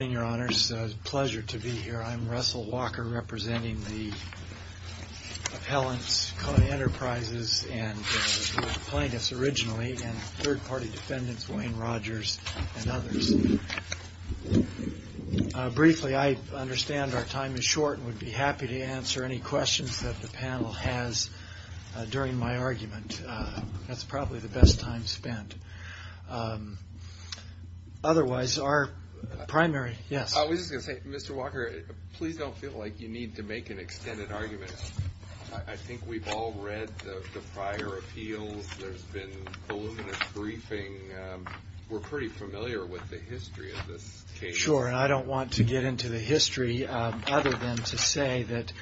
It's a pleasure to be here. I'm Russell Walker, representing the appellants, Kona Enterprises, and the plaintiffs originally, and third-party defendants, Wayne Rogers, and others. Briefly, I understand our time is short and would be happy to answer any questions that the panel has during my argument. That's probably the best time spent. Otherwise, our primary... Yes? I was just going to say, Mr. Walker, please don't feel like you need to make an extended argument. I think we've all read the prior appeals. There's been voluminous briefing. We're pretty familiar with the history of this case. Sure, and I don't want to get into the history other than to say that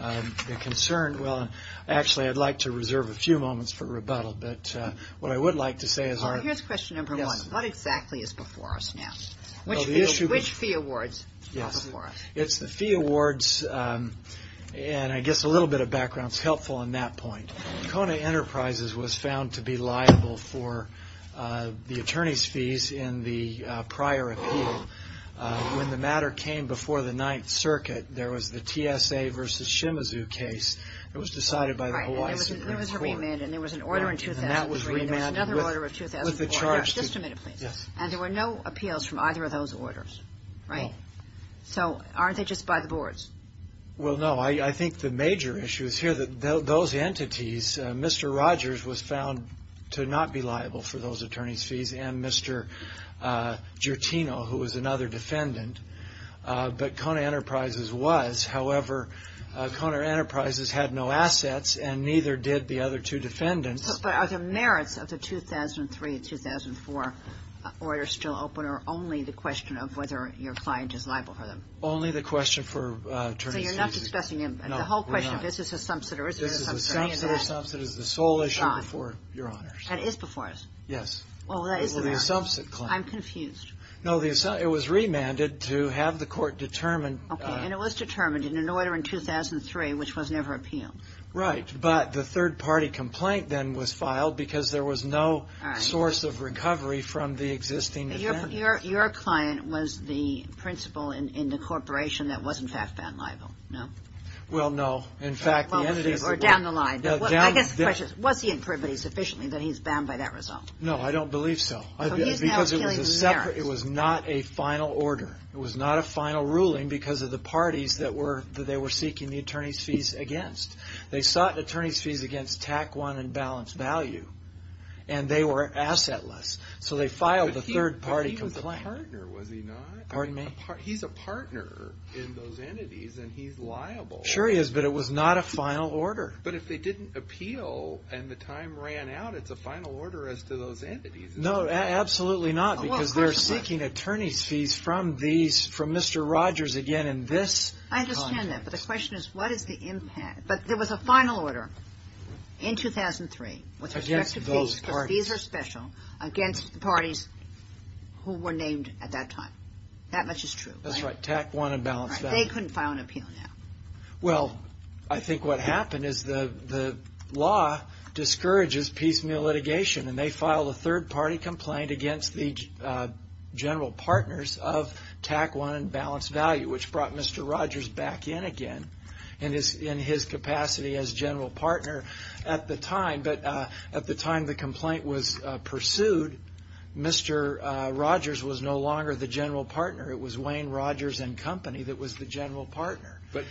the concern... Well, actually, I'd like to reserve a few moments for rebuttal, but what I would like to say is... Here's question number one. What exactly is before us now? Which fee awards are before us? When the matter came before the Ninth Circuit, there was the TSA v. Shimizu case that was decided by the Hawaii Supreme Court. Right, and there was a remand, and there was an order in 2003, and there was another order in 2004. Just a minute, please. Yes. And there were no appeals from either of those orders, right? So aren't they just by the boards? Well, no. I think the major issue is here that those entities, Mr. Rogers was found to not be liable for those attorneys' fees, and Mr. Gertino, who was another defendant, but Kona Enterprises was. However, Kona Enterprises had no assets, and neither did the other two defendants. But are the merits of the 2003 and 2004 orders still open, or only the question of whether your client is liable for them? Only the question for attorneys' fees. So you're not discussing them? No, we're not. The whole question of is this a subsider, is it a subsider? This is a subsider. A subsider is the sole issue before Your Honors. That is before us? Yes. Well, that is the matter. Well, the subset claim. I'm confused. No, it was remanded to have the court determine... Okay, and it was determined in an order in 2003, which was never appealed. Right, but the third-party complaint then was filed because there was no source of recovery from the existing defendants. But your client was the principal in the corporation that was, in fact, found liable, no? Well, no. In fact, the evidence... Or down the line. I guess the question is, was he in privity sufficiently that he's bound by that result? No, I don't believe so. So he's now appealing the merits. It was not a final order. It was not a final ruling because of the parties that they were seeking the attorneys' fees against. They sought attorneys' fees against TAC I and balanced value, and they were assetless. So they filed the third-party complaint. But he was a partner, was he not? Pardon me? He's a partner in those entities, and he's liable. Sure he is, but it was not a final order. But if they didn't appeal and the time ran out, it's a final order as to those entities. No, absolutely not, because they're seeking attorneys' fees from Mr. Rogers again in this context. I understand that, but the question is, what is the impact? But there was a final order in 2003 with respect to fees, because fees are special, against the parties who were named at that time. That much is true. That's right, TAC I and balanced value. They couldn't file an appeal now. Well, I think what happened is the law discourages piecemeal litigation, and they filed a third-party complaint against the general partners of TAC I and balanced value, which brought Mr. Rogers back in again in his capacity as general partner at the time. But at the time the complaint was pursued, Mr. Rogers was no longer the general partner. It was Wayne Rogers and Company that was the general partner. But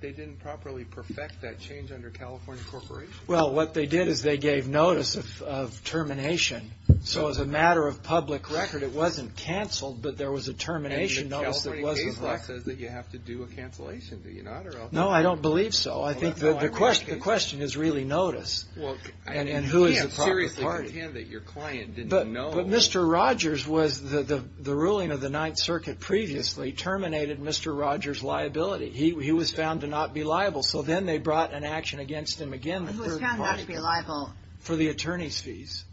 they didn't properly perfect that change under California Corporation. Well, what they did is they gave notice of termination. So as a matter of public record, it wasn't canceled, but there was a termination notice that wasn't filed. And the California case law says that you have to do a cancellation. Do you not? No, I don't believe so. I think the question is really notice and who is the proper party. You can't seriously pretend that your client didn't know. But Mr. Rogers was the ruling of the Ninth Circuit previously terminated Mr. Rogers' liability. He was found to not be liable. So then they brought an action against him again. He was found not to be liable. For the attorney's fees.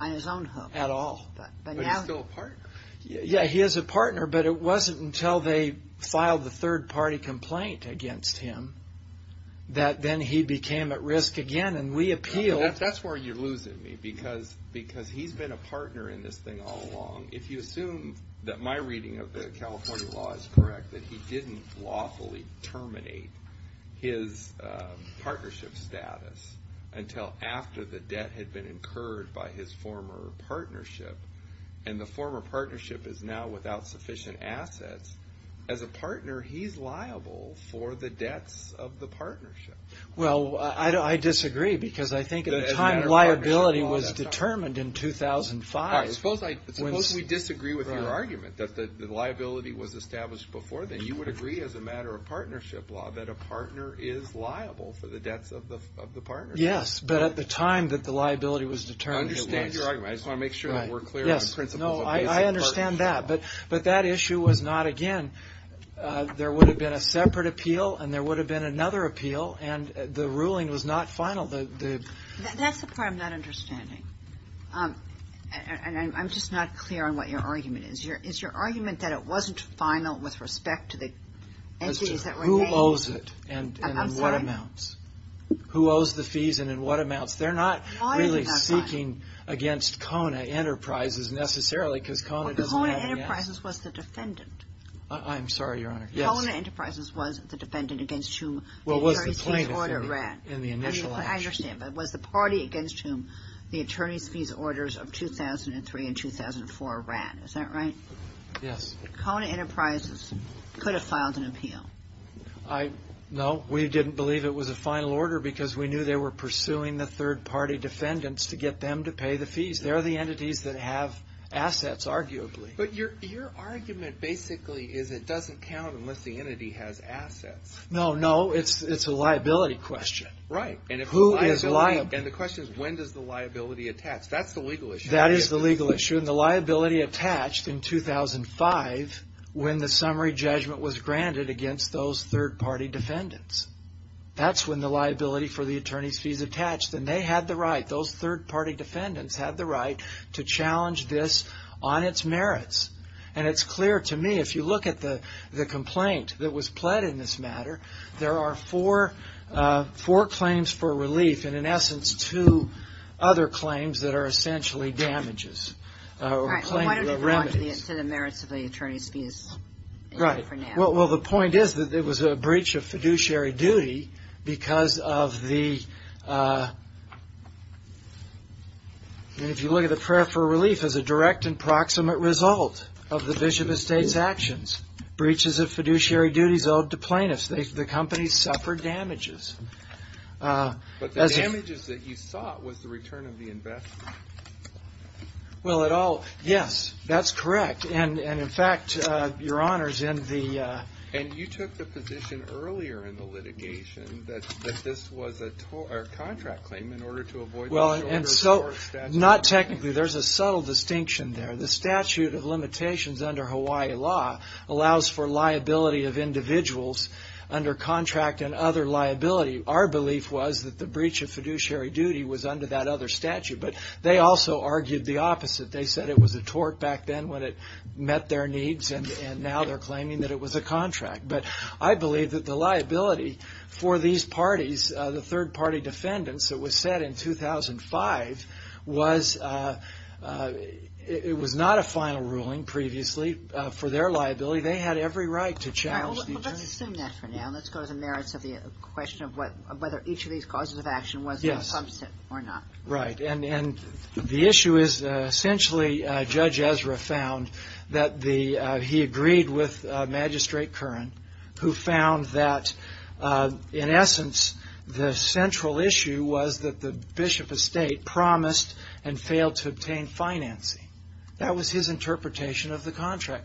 On his own hope. At all. But he's still a partner. Yeah, he is a partner, but it wasn't until they filed the third party complaint against him that then he became at risk again. And we appealed. That's where you're losing me. Because he's been a partner in this thing all along. If you assume that my reading of the California law is correct, that he didn't lawfully terminate his partnership status until after the debt had been incurred by his former partnership. And the former partnership is now without sufficient assets. As a partner, he's liable for the debts of the partnership. Well, I disagree because I think at the time liability was determined in 2005. Suppose we disagree with your argument that the liability was established before then. You would agree as a matter of partnership law that a partner is liable for the debts of the partnership. Yes, but at the time that the liability was determined. I understand your argument. I just want to make sure that we're clear on the principles of basic partnership. Yes, no, I understand that. But that issue was not, again, there would have been a separate appeal and there would have been another appeal and the ruling was not final. That's the part I'm not understanding. And I'm just not clear on what your argument is. Is your argument that it wasn't final with respect to the entities that were named? Who owes it and in what amounts? I'm sorry? Who owes the fees and in what amounts? They're not really speaking against Kona Enterprises necessarily because Kona doesn't have any assets. Well, Kona Enterprises was the defendant. I'm sorry, Your Honor. Yes. Kona Enterprises was the defendant against whom the attorney's fees order ran. Well, it was the plaintiff in the initial action. I understand, but it was the party against whom the attorney's fees orders of 2003 and 2004 ran. Yes. Kona Enterprises could have filed an appeal. No. We didn't believe it was a final order because we knew they were pursuing the third party defendants to get them to pay the fees. They're the entities that have assets, arguably. But your argument basically is it doesn't count unless the entity has assets. No, no. It's a liability question. Right. And the question is when does the liability attach? That's the legal issue. That is the legal issue. That's when the liability attached in 2005 when the summary judgment was granted against those third party defendants. That's when the liability for the attorney's fees attached. And they had the right, those third party defendants had the right to challenge this on its merits. And it's clear to me, if you look at the complaint that was pled in this matter, there are four claims for relief and, in essence, two other claims that are essentially damages. All right. Well, why don't you go on to the merits of the attorney's fees for now? Right. Well, the point is that it was a breach of fiduciary duty because of the, and if you look at the prayer for relief as a direct and proximate result of the bishop of state's actions, breaches of fiduciary duties owed to plaintiffs. The company suffered damages. But the damages that you sought was the return of the investment. Well, it all, yes, that's correct. And, in fact, Your Honors, in the... And you took the position earlier in the litigation that this was a contract claim in order to avoid... Well, and so, not technically. There's a subtle distinction there. The statute of limitations under Hawaii law allows for liability of individuals under contract and other liability. Our belief was that the breach of fiduciary duty was under that other statute. But they also argued the opposite. They said it was a tort back then when it met their needs, and now they're claiming that it was a contract. But I believe that the liability for these parties, the third-party defendants, that was set in 2005, was... It was not a final ruling previously for their liability. They had every right to challenge the attorney. Well, let's assume that for now. Let's go to the merits of the question of whether each of these causes of action was... Yes. Or not. Right. And the issue is, essentially, Judge Ezra found that the... He agreed with Magistrate Curran, who found that, in essence, the central issue was that the Bishop Estate promised and failed to obtain financing. That was his interpretation of the contract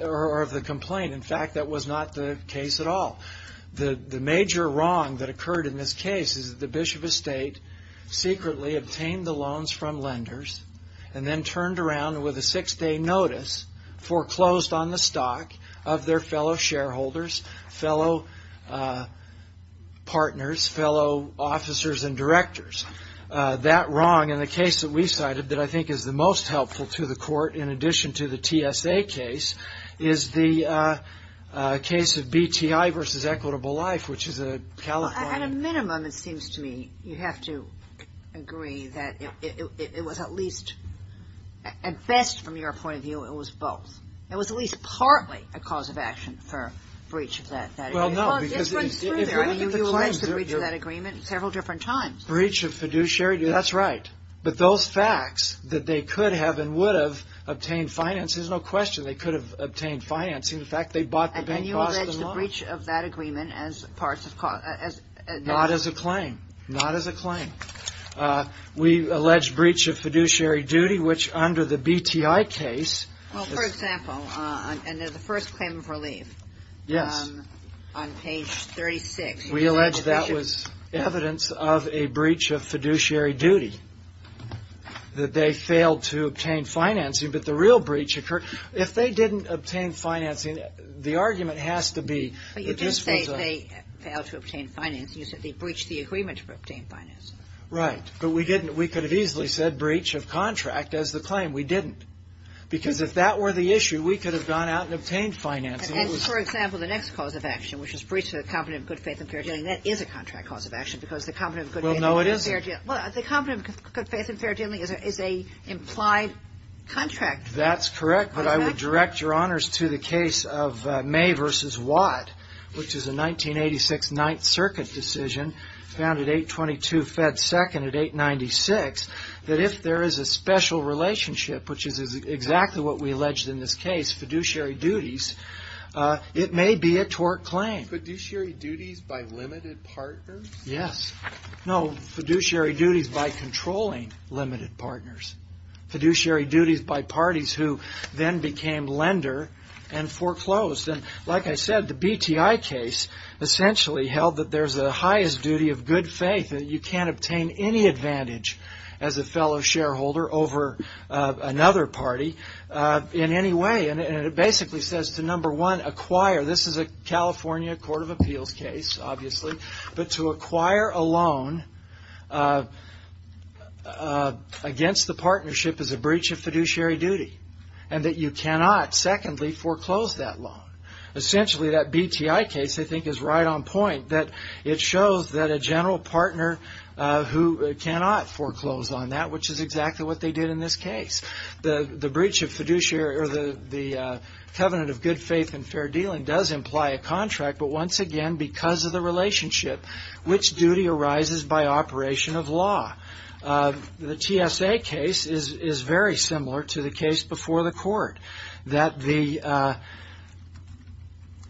or of the complaint. In fact, that was not the case at all. The major wrong that occurred in this case is that the Bishop Estate secretly obtained the loans from lenders and then turned around with a six-day notice foreclosed on the stock of their fellow shareholders, fellow partners, fellow officers and directors. That wrong in the case that we cited that I think is the most helpful to the Court, in addition to the TSA case, is the case of BTI v. Equitable Life, which is a California... At a minimum, it seems to me, you have to agree that it was at least... At best, from your point of view, it was both. It was at least partly a cause of action for breach of that agreement. Well, no. This runs through there. I mean, you erased the breach of that agreement several different times. Breach of fiduciary duty. That's right. But those facts that they could have and would have obtained financing... There's no question they could have obtained financing. In fact, they bought the bank... And you allege the breach of that agreement as part of... Not as a claim. Not as a claim. We allege breach of fiduciary duty, which under the BTI case... Well, for example, under the first claim of relief... Yes. On page 36... We allege that was evidence of a breach of fiduciary duty, that they failed to obtain financing. But the real breach occurred... If they didn't obtain financing, the argument has to be that this was a... But you didn't say they failed to obtain financing. You said they breached the agreement to obtain financing. Right. But we didn't... We could have easily said breach of contract as the claim. We didn't. Because if that were the issue, we could have gone out and obtained financing. And for example, the next cause of action, which is breach of the Component of Good Faith and Fair Dealing... That is a contract cause of action because the Component of Good Faith and Fair Dealing... Well, no, it isn't. Well, the Component of Good Faith and Fair Dealing is a implied contract. That's correct. But I would direct Your Honors to the case of May v. Watt, which is a 1986 Ninth Circuit decision, found at 822 Fed 2nd at 896, that if there is a special relationship, which is exactly what we alleged in this case, fiduciary duties, it may be a tort claim. Fiduciary duties by limited partners? Yes. No, fiduciary duties by controlling limited partners. Fiduciary duties by parties who then became lender and foreclosed. And like I said, the BTI case essentially held that there's a highest duty of good faith, that you can't obtain any advantage as a fellow shareholder over another party in any way. And it basically says to, number one, acquire... This is a California Court of Appeals case, obviously. But to acquire a loan against the partnership is a breach of fiduciary duty, and that you cannot, secondly, foreclose that loan. Essentially, that BTI case, I think, is right on point, that it shows that a general partner who cannot foreclose on that, which is exactly what they did in this case. The breach of fiduciary or the covenant of good faith and fair dealing does imply a contract, but once again, because of the relationship, which duty arises by operation of law? The TSA case is very similar to the case before the Court, that the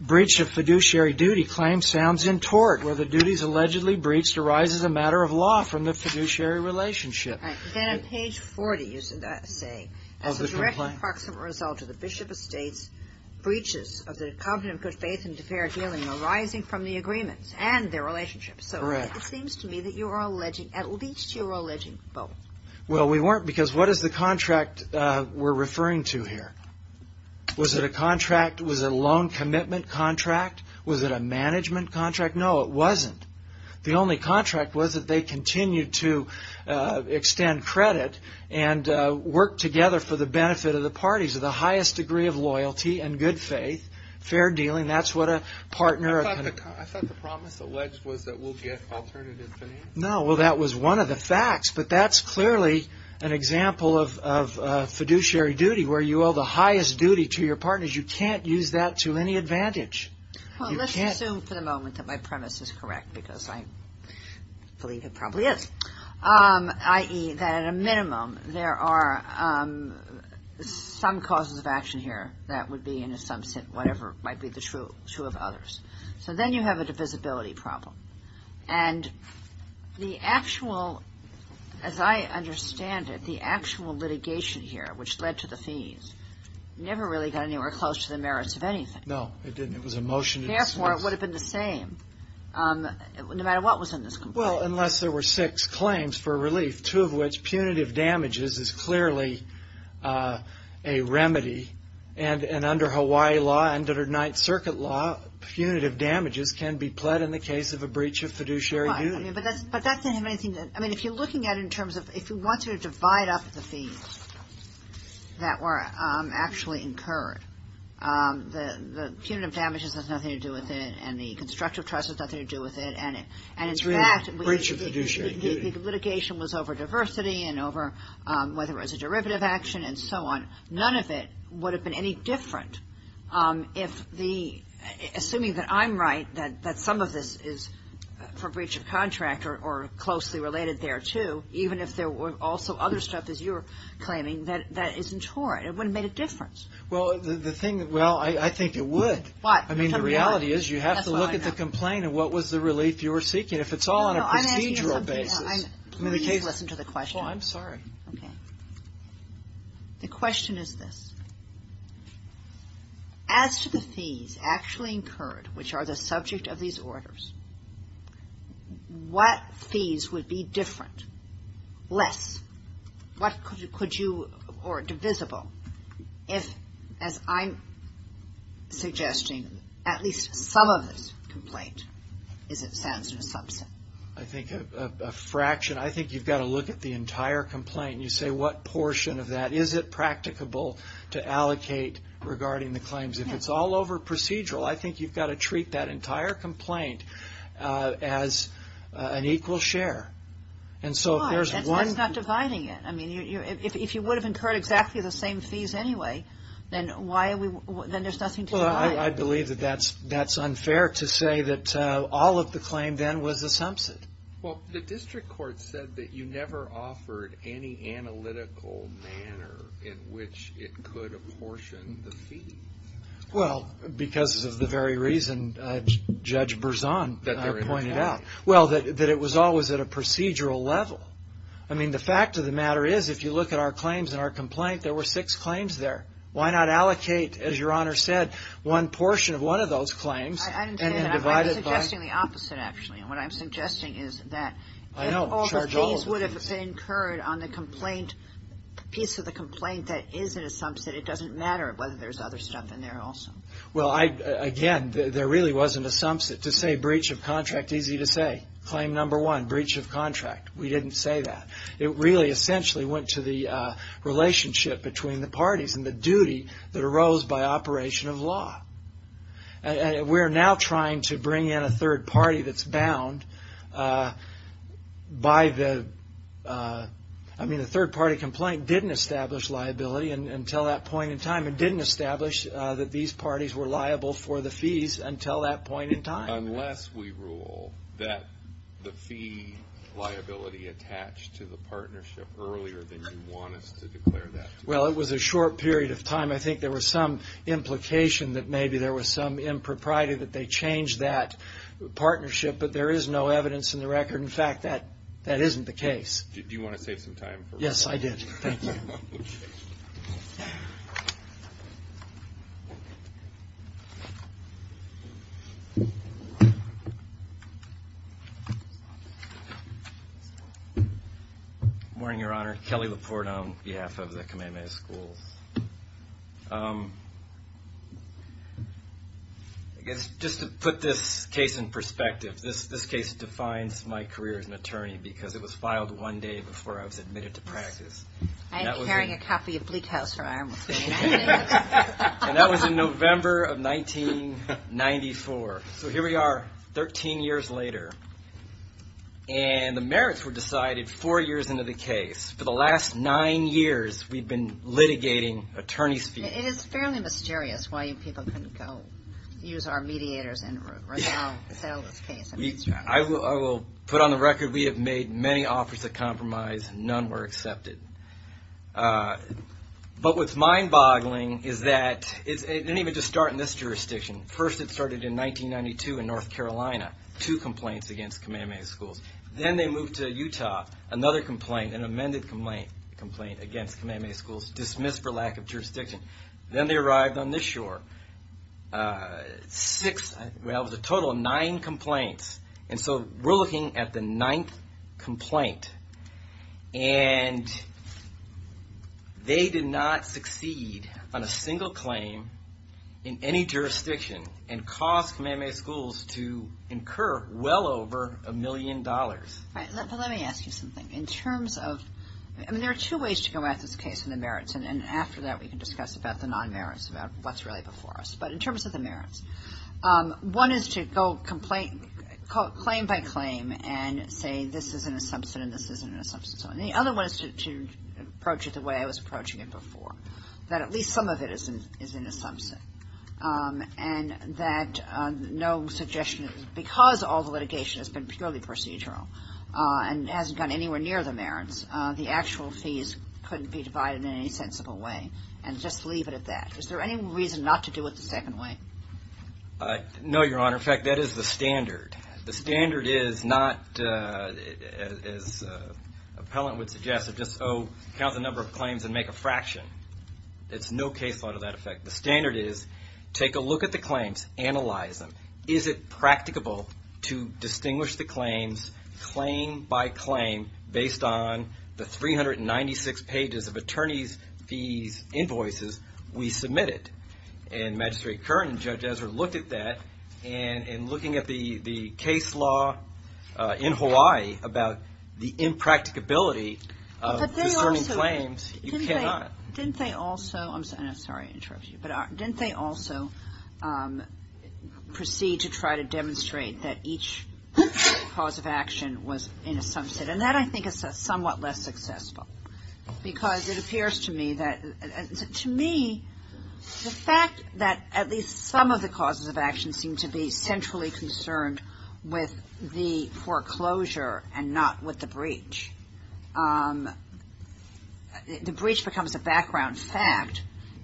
breach of fiduciary duty claim sounds in tort, where the duties allegedly breached arises a matter of law from the fiduciary relationship. Right. Then on page 40, you say, as a direct and proximate result of the Bishop Estates breaches of the covenant of good faith and fair dealing arising from the agreements and their relationships. Correct. So it seems to me that you are alleging, at least you are alleging both. Well, we weren't because what is the contract we are referring to here? Was it a contract? Was it a loan commitment contract? Was it a management contract? No, it wasn't. The only contract was that they continued to extend credit and work together for the benefit of the parties of the highest degree of loyalty and good faith, fair dealing. That's what a partner… I thought the promise alleged was that we will get alternative financing. No, well, that was one of the facts, but that's clearly an example of fiduciary duty where you owe the highest duty to your partners. You can't use that to any advantage. Well, let's assume for the moment that my premise is correct because I believe it probably is, i.e., that at a minimum there are some causes of action here that would be in some sense, whatever might be the true of others. So then you have a divisibility problem. And the actual, as I understand it, the actual litigation here which led to the fees never really got anywhere close to the merits of anything. No, it didn't. It was a motion to dismiss. Therefore, it would have been the same no matter what was in this complaint. Well, unless there were six claims for relief, two of which punitive damages is clearly a remedy, and under Hawaii law and under Ninth Circuit law, punitive damages can be pled in the case of a breach of fiduciary duty. Right, but that doesn't have anything. I mean, if you're looking at it in terms of if you want to divide up the fees that were actually incurred, the punitive damages has nothing to do with it, and the constructive trust has nothing to do with it, and in fact the litigation was over diversity and over whether it was a derivative action and so on. None of it would have been any different if the, assuming that I'm right, that some of this is for breach of contract or closely related there, too, even if there were also other stuff, as you were claiming, that isn't for it. It wouldn't have made a difference. Well, the thing, well, I think it would. Why? I mean, the reality is you have to look at the complaint and what was the relief you were seeking. If it's all on a procedural basis. I'm asking you to listen to the question. Well, I'm sorry. Okay. The question is this. As to the fees actually incurred, which are the subject of these orders, what fees would be different, less? What could you, or divisible, if, as I'm suggesting, at least some of this complaint is, it sounds to me, a subset. I think a fraction. I think you've got to look at the entire complaint and you say what portion of that is it practicable to allocate regarding the claims. If it's all over procedural, I think you've got to treat that entire complaint as an equal share. Why? That's not dividing it. I mean, if you would have incurred exactly the same fees anyway, then there's nothing to divide. Well, I believe that that's unfair to say that all of the claim then was a subset. Well, the district court said that you never offered any analytical manner in which it could apportion the fees. Well, because of the very reason Judge Berzon pointed out. Well, that it was always at a procedural level. I mean, the fact of the matter is, if you look at our claims in our complaint, there were six claims there. Why not allocate, as Your Honor said, one portion of one of those claims and then divide it by? I'm suggesting the opposite, actually. What I'm suggesting is that if all the fees would have been incurred on the piece of the complaint that is a subset, it doesn't matter whether there's other stuff in there also. Well, again, there really wasn't a subset. To say breach of contract, easy to say. Claim number one, breach of contract. We didn't say that. It really essentially went to the relationship between the parties and the duty that arose by operation of law. We're now trying to bring in a third party that's bound by the, I mean, the third party complaint didn't establish liability until that point in time. It didn't establish that these parties were liable for the fees until that point in time. Unless we rule that the fee liability attached to the partnership earlier than you want us to declare that. I think there was some implication that maybe there was some impropriety that they changed that partnership, but there is no evidence in the record. In fact, that isn't the case. Do you want to save some time? Yes, I did. Thank you. Morning, Your Honor. Kelly Laporte on behalf of the Kamehameha Schools. I guess just to put this case in perspective, this case defines my career as an attorney because it was filed one day before I was admitted to practice. I am carrying a copy of Bleak House from Ironwood. And that was in November of 1994. So here we are 13 years later, and the merits were decided four years into the case. For the last nine years, we've been litigating attorney's fees. It is fairly mysterious why you people couldn't go use our mediators and sell this case. I will put on the record we have made many offers of compromise. None were accepted. But what's mind-boggling is that it didn't even just start in this jurisdiction. First, it started in 1992 in North Carolina. Two complaints against Kamehameha Schools. Then they moved to Utah. Another complaint, an amended complaint against Kamehameha Schools, dismissed for lack of jurisdiction. Then they arrived on this shore. Well, it was a total of nine complaints. And so we're looking at the ninth complaint. And they did not succeed on a single claim in any jurisdiction and caused Kamehameha Schools to incur well over a million dollars. But let me ask you something. In terms of – I mean, there are two ways to go at this case in the merits. And after that, we can discuss about the non-merits, about what's really before us. But in terms of the merits, one is to go claim by claim and say this is an assumption and this isn't an assumption. And the other one is to approach it the way I was approaching it before, that at least some of it is an assumption and that no suggestion – because all the litigation has been purely procedural and hasn't gone anywhere near the merits, the actual fees couldn't be divided in any sensible way and just leave it at that. Is there any reason not to do it the second way? No, Your Honor. In fact, that is the standard. The standard is not, as an appellant would suggest, just count the number of claims and make a fraction. It's no case law to that effect. The standard is take a look at the claims, analyze them. Is it practicable to distinguish the claims claim by claim based on the 396 pages of attorney's fees invoices we submitted? And Magistrate Curran and Judge Ezra looked at that and in looking at the case law in Hawaii about the impracticability of discerning claims, you cannot. Didn't they also – I'm sorry to interrupt you – but didn't they also proceed to try to demonstrate that each cause of action was an assumption? That's it. And that, I think, is somewhat less successful because it appears to me that – to me, the fact that at least some of the causes of action seem to be centrally concerned with the foreclosure and not with the breach. The breach becomes a background fact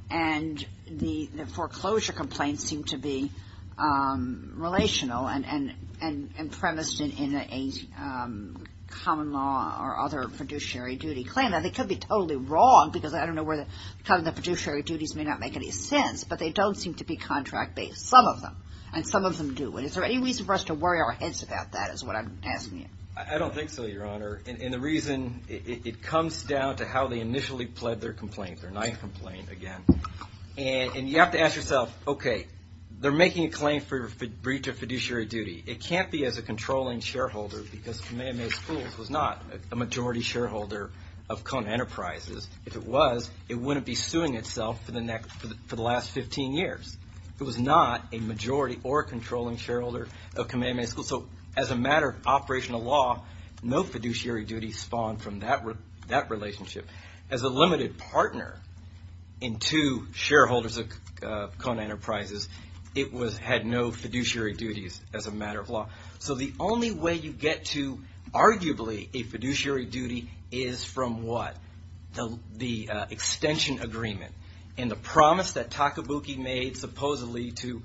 and the foreclosure complaints seem to be relational and premised in a common law or other fiduciary duty claim. Now, they could be totally wrong because I don't know where the – the fiduciary duties may not make any sense, but they don't seem to be contract-based. Some of them, and some of them do. Is there any reason for us to worry our heads about that is what I'm asking you. I don't think so, Your Honor, and the reason it comes down to how they initially pled their complaint, their ninth complaint, again. And you have to ask yourself, okay, they're making a claim for breach of fiduciary duty. It can't be as a controlling shareholder because Kamehameha Schools was not a majority shareholder of Kona Enterprises. If it was, it wouldn't be suing itself for the last 15 years. It was not a majority or a controlling shareholder of Kamehameha Schools. So, as a matter of operational law, no fiduciary duties spawned from that relationship. As a limited partner in two shareholders of Kona Enterprises, it had no fiduciary duties as a matter of law. So the only way you get to arguably a fiduciary duty is from what? The extension agreement and the promise that Takabuki made supposedly to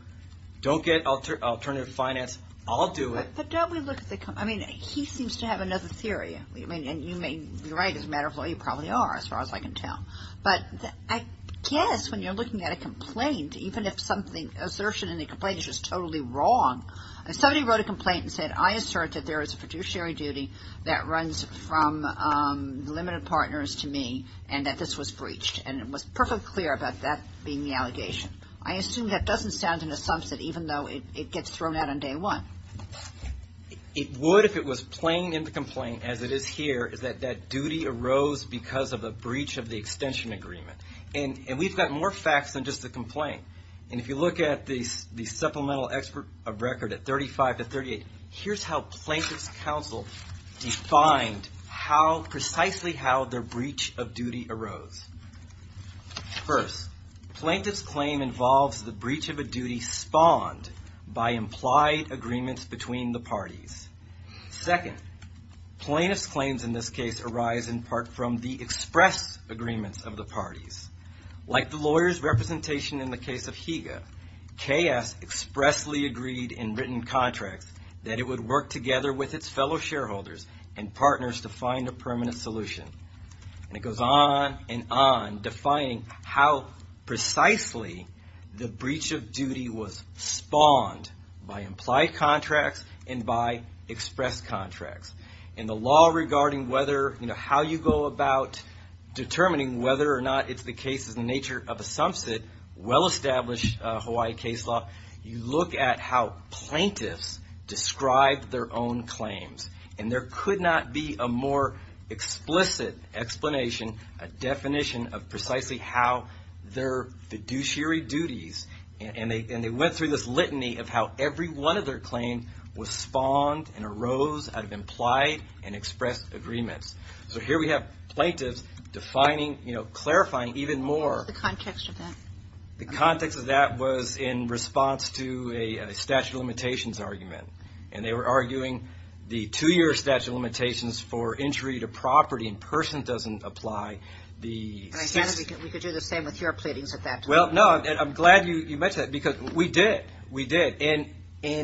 don't get alternative finance, I'll do it. But don't we look at the – I mean, he seems to have another theory. I mean, and you may be right. As a matter of law, you probably are, as far as I can tell. But I guess when you're looking at a complaint, even if something – assertion in the complaint is just totally wrong. If somebody wrote a complaint and said, I assert that there is a fiduciary duty that runs from limited partners to me and that this was breached, and it was perfectly clear about that being the allegation, I assume that doesn't sound an assumption, even though it gets thrown out on day one. It would if it was plain in the complaint, as it is here, is that that duty arose because of a breach of the extension agreement. And we've got more facts than just the complaint. And if you look at the supplemental expert record at 35 to 38, here's how Plaintiff's Counsel defined how – precisely how their breach of duty arose. First, plaintiff's claim involves the breach of a duty spawned by implied agreements between the parties. Second, plaintiff's claims in this case arise in part from the express agreements of the parties. Like the lawyer's representation in the case of Higa, KS expressly agreed in written contracts that it would work together with its fellow shareholders and partners to find a permanent solution. And it goes on and on, defining how precisely the breach of duty was spawned by implied contracts and by express contracts. In the law regarding whether – how you go about determining whether or not it's the case of the nature of a sumsit, well-established Hawaii case law, you look at how plaintiffs describe their own claims. And there could not be a more explicit explanation, a definition of precisely how their fiduciary duties – and they went through this litany of how every one of their claims was spawned and arose out of implied and expressed agreements. So here we have plaintiffs defining, clarifying even more. The context of that. The context of that was in response to a statute of limitations argument. And they were arguing the two-year statute of limitations for entry to property in person doesn't apply. We could do the same with your pleadings at that time. Well, no, I'm glad you mentioned that because we did. We did. And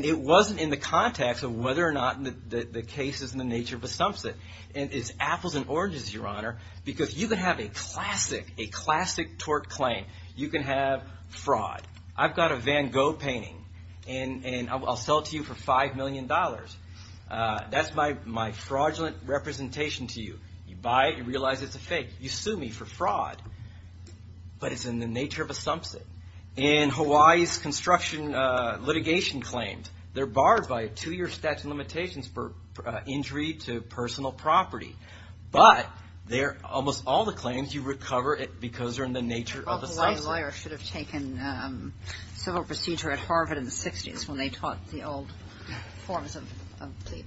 it wasn't in the context of whether or not the case is in the nature of a sumsit. And it's apples and oranges, Your Honor, because you can have a classic, a classic tort claim. You can have fraud. I've got a Van Gogh painting, and I'll sell it to you for $5 million. That's my fraudulent representation to you. You buy it. You realize it's a fake. You sue me for fraud. But it's in the nature of a sumsit. And Hawaii's construction litigation claims, they're barred by a two-year statute of limitations for entry to personal property. But they're almost all the claims you recover because they're in the nature of a sumsit. The Hawaii lawyer should have taken civil procedure at Harvard in the 60s when they taught the old forms of pleading.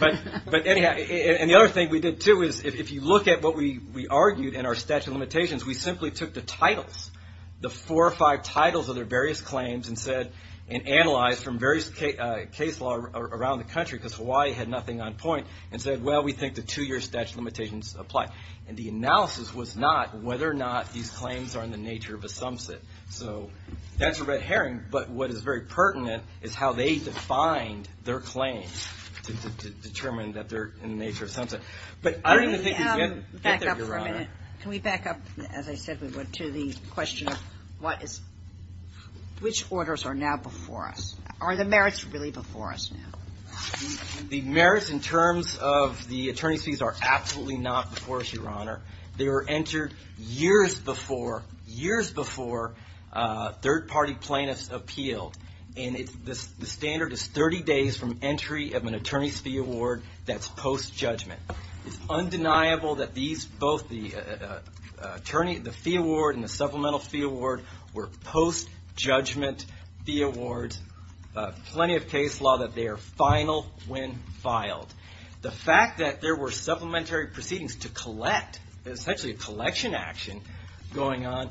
But anyhow, and the other thing we did, too, is if you look at what we argued in our statute of limitations, we simply took the titles, the four or five titles of their various claims, and said and analyzed from various case law around the country because Hawaii had nothing on point, and said, well, we think the two-year statute of limitations apply. And the analysis was not whether or not these claims are in the nature of a sumsit. So thanks for the red herring, but what is very pertinent is how they defined their claims to determine that they're in the nature of a sumsit. But I don't even think these men get there, Your Honor. Can we back up for a minute? Can we back up, as I said we would, to the question of which orders are now before us? Are the merits really before us now? The merits in terms of the attorney's fees are absolutely not before us, Your Honor. They were entered years before, years before third-party plaintiffs appealed. And the standard is 30 days from entry of an attorney's fee award that's post-judgment. It's undeniable that these, both the fee award and the supplemental fee award, were post-judgment fee awards. Plenty of case law that they are final when filed. The fact that there were supplementary proceedings to collect, essentially a collection action going on,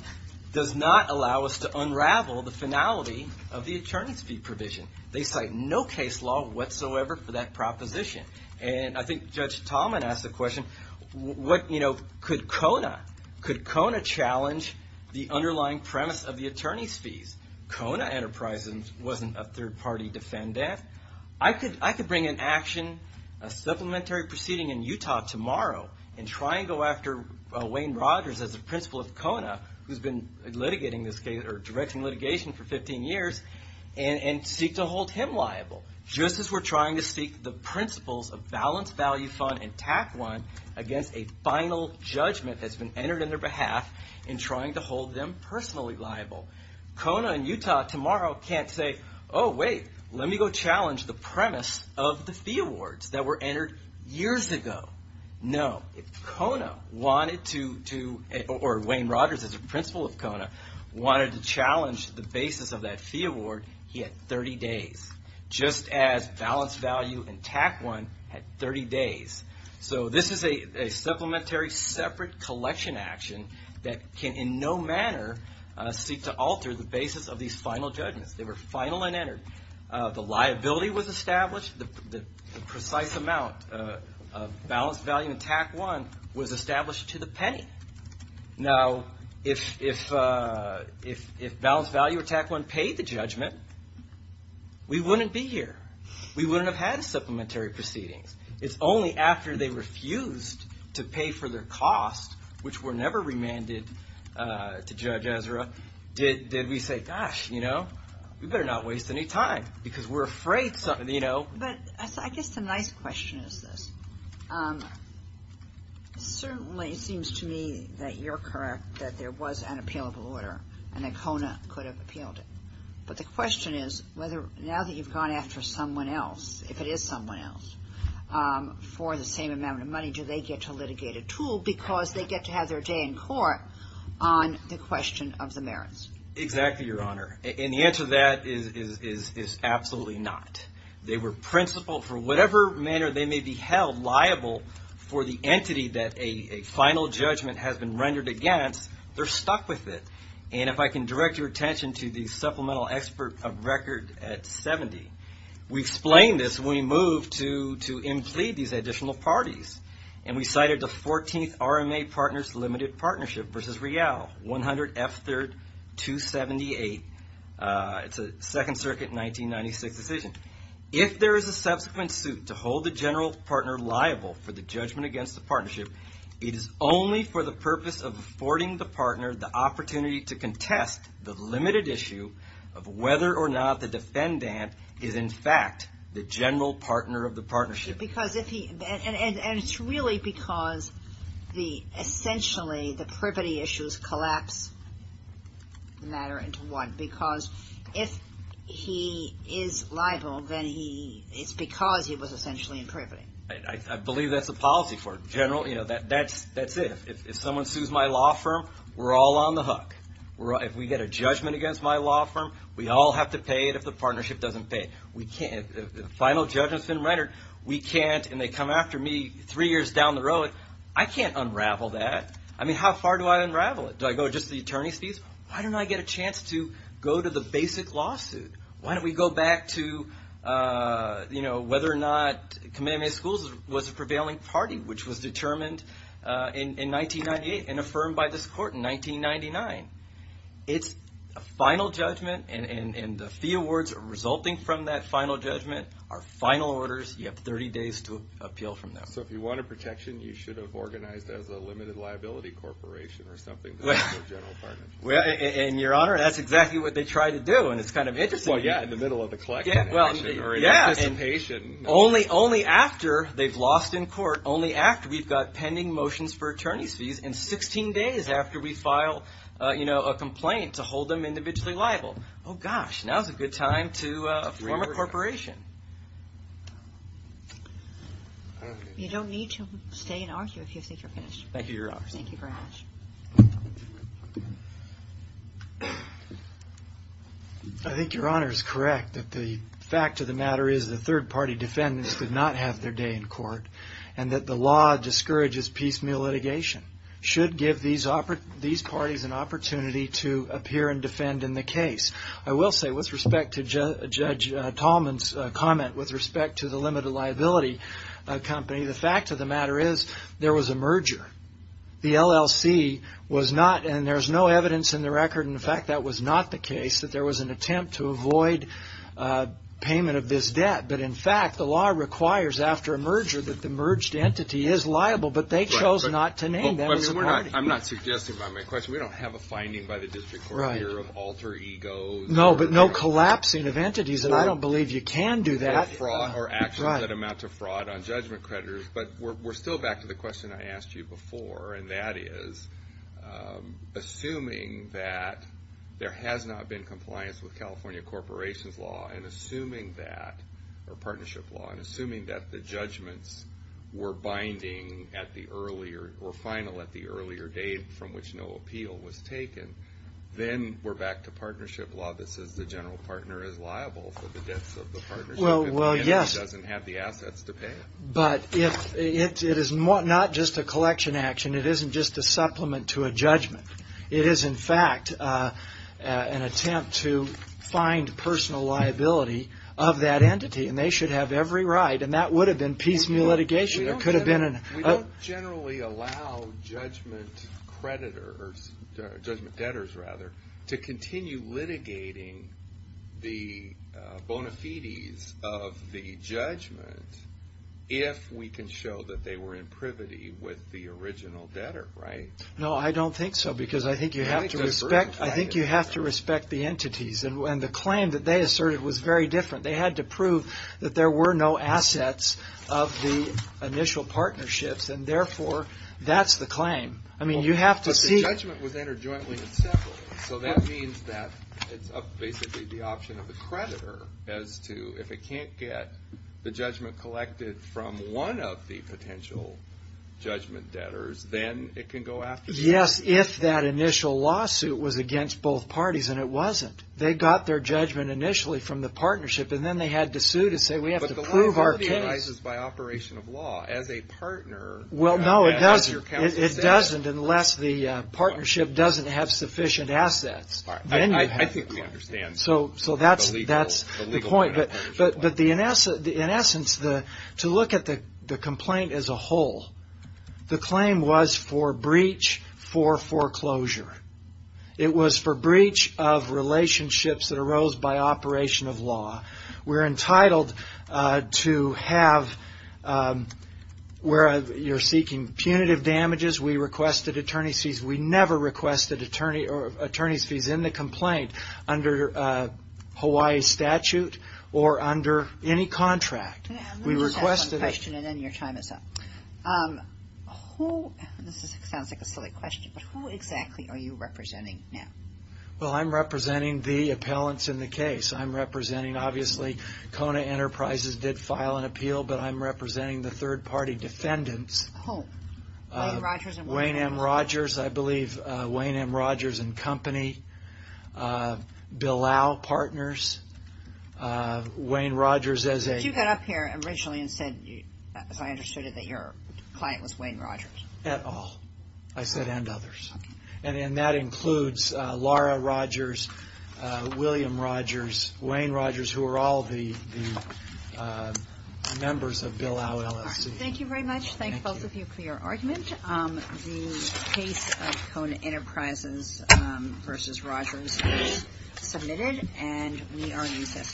does not allow us to unravel the finality of the attorney's fee provision. They cite no case law whatsoever for that proposition. And I think Judge Tallman asked the question, what, you know, could Kona, could Kona challenge the underlying premise of the attorney's fees? Kona Enterprises wasn't a third-party defendant. I could bring an action, a supplementary proceeding in Utah tomorrow, and try and go after Wayne Rogers as the principal of Kona, who's been litigating this case, or directing litigation for 15 years, and seek to hold him liable, just as we're trying to seek the principles of balance value fund and TAC 1 against a final judgment that's been entered on their behalf in trying to hold them personally liable. Kona in Utah tomorrow can't say, oh wait, let me go challenge the premise of the fee awards that were entered years ago. No. If Kona wanted to, or Wayne Rogers as the principal of Kona, wanted to challenge the basis of that fee award, he had 30 days, just as balance value and TAC 1 had 30 days. So this is a supplementary separate collection action that can in no manner seek to alter the basis of these final judgments. They were final and entered. The liability was established. The precise amount of balance value and TAC 1 was established to the penny. Now, if balance value or TAC 1 paid the judgment, we wouldn't be here. We wouldn't have had supplementary proceedings. It's only after they refused to pay for their cost, which were never remanded to Judge Ezra, did we say, gosh, you know, we better not waste any time because we're afraid something, you know. But I guess the nice question is this. It certainly seems to me that you're correct that there was an appealable order and that Kona could have appealed it. But the question is whether now that you've gone after someone else, if it is someone else, for the same amount of money, do they get to litigate at all because they get to have their day in court on the question of the merits? Exactly, Your Honor. And the answer to that is absolutely not. They were principled for whatever manner they may be held liable for the entity that a final judgment has been rendered against, they're stuck with it. And if I can direct your attention to the supplemental expert of record at 70, we explained this when we moved to implead these additional parties. And we cited the 14th RMA Partners Limited Partnership versus Real 100 F3rd 278. It's a Second Circuit 1996 decision. If there is a subsequent suit to hold the general partner liable for the judgment against the partnership, it is only for the purpose of affording the partner the opportunity to contest the limited issue of whether or not the defendant is, in fact, the general partner of the partnership. And it's really because essentially the privity issues collapse the matter into what? Because if he is liable, then it's because he was essentially in privity. I believe that's the policy for it. That's it. If someone sues my law firm, we're all on the hook. If we get a judgment against my law firm, we all have to pay it if the partnership doesn't pay it. The final judgment has been rendered. We can't, and they come after me three years down the road. I can't unravel that. I mean, how far do I unravel it? Do I go just to the attorney's fees? Why don't I get a chance to go to the basic lawsuit? Why don't we go back to whether or not Kamehameha Schools was a prevailing party, which was determined in 1998 and affirmed by this court in 1999? It's a final judgment, and the fee awards resulting from that final judgment are final orders. You have 30 days to appeal from them. So if you want a protection, you should have organized as a limited liability corporation or something. And, Your Honor, that's exactly what they try to do, and it's kind of interesting. Well, yeah, in the middle of a collection action or an anticipation. Only after they've lost in court, only after we've got pending motions for attorney's fees, and 16 days after we file a complaint to hold them individually liable. Oh, gosh, now's a good time to form a corporation. You don't need to stay and argue if you think you're finished. Thank you, Your Honor. Thank you for asking. I think Your Honor is correct that the fact of the matter is the third-party defendants did not have their day in court, and that the law discourages piecemeal litigation. It should give these parties an opportunity to appear and defend in the case. I will say, with respect to Judge Tallman's comment with respect to the limited liability company, the fact of the matter is there was a merger. The LLC was not, and there's no evidence in the record, in fact, that was not the case, that there was an attempt to avoid payment of this debt. But, in fact, the law requires after a merger that the merged entity is liable, but they chose not to name them as a party. I'm not suggesting, by my question, we don't have a finding by the district court here of alter egos. No, but no collapsing of entities, and I don't believe you can do that. Or actions that amount to fraud on judgment creditors. But we're still back to the question I asked you before, and that is, assuming that there has not been compliance with California corporations law, and assuming that, or partnership law, and assuming that the judgments were binding at the earlier, or final at the earlier date from which no appeal was taken, then we're back to partnership law that says the general partner is liable for the debts of the partnership. Well, yes. If the entity doesn't have the assets to pay it. But it is not just a collection action. It isn't just a supplement to a judgment. It is, in fact, an attempt to find personal liability of that entity, and they should have every right, and that would have been piecemeal litigation. We don't generally allow judgment debtors to continue litigating the bona fides of the judgment if we can show that they were in privity with the original debtor, right? No, I don't think so, because I think you have to respect the entities, and the claim that they asserted was very different. They had to prove that there were no assets of the initial partnerships, and therefore, that's the claim. I mean, you have to see. But the judgment was entered jointly and separately, so that means that it's basically the option of the creditor as to, if it can't get the judgment collected from one of the potential judgment debtors, then it can go after you. Yes, if that initial lawsuit was against both parties, and it wasn't. They got their judgment initially from the partnership, and then they had to sue to say, we have to prove our case. But the law is authorized by operation of law as a partner. Well, no, it doesn't. As your counsel said. It doesn't unless the partnership doesn't have sufficient assets. I think we understand. So that's the point. But in essence, to look at the complaint as a whole, the claim was for breach for foreclosure. It was for breach of relationships that arose by operation of law. We're entitled to have, where you're seeking punitive damages, we requested attorney's fees. We never requested attorney's fees in the complaint under Hawaii statute or under any contract. Let me just ask one question, and then your time is up. This sounds like a silly question, but who exactly are you representing now? Well, I'm representing the appellants in the case. I'm representing, obviously, Kona Enterprises did file an appeal, but I'm representing the third-party defendants. Who? Wayne M. Rogers, I believe. Wayne M. Rogers and Company. Bilal Partners. Wayne Rogers as a... I understood that your client was Wayne Rogers. At all. I said and others. And that includes Laura Rogers, William Rogers, Wayne Rogers, who are all the members of Bilal LLC. Thank you very much. Thank both of you for your argument. The case of Kona Enterprises v. Rogers is submitted, and we are in recess until tomorrow. All rise.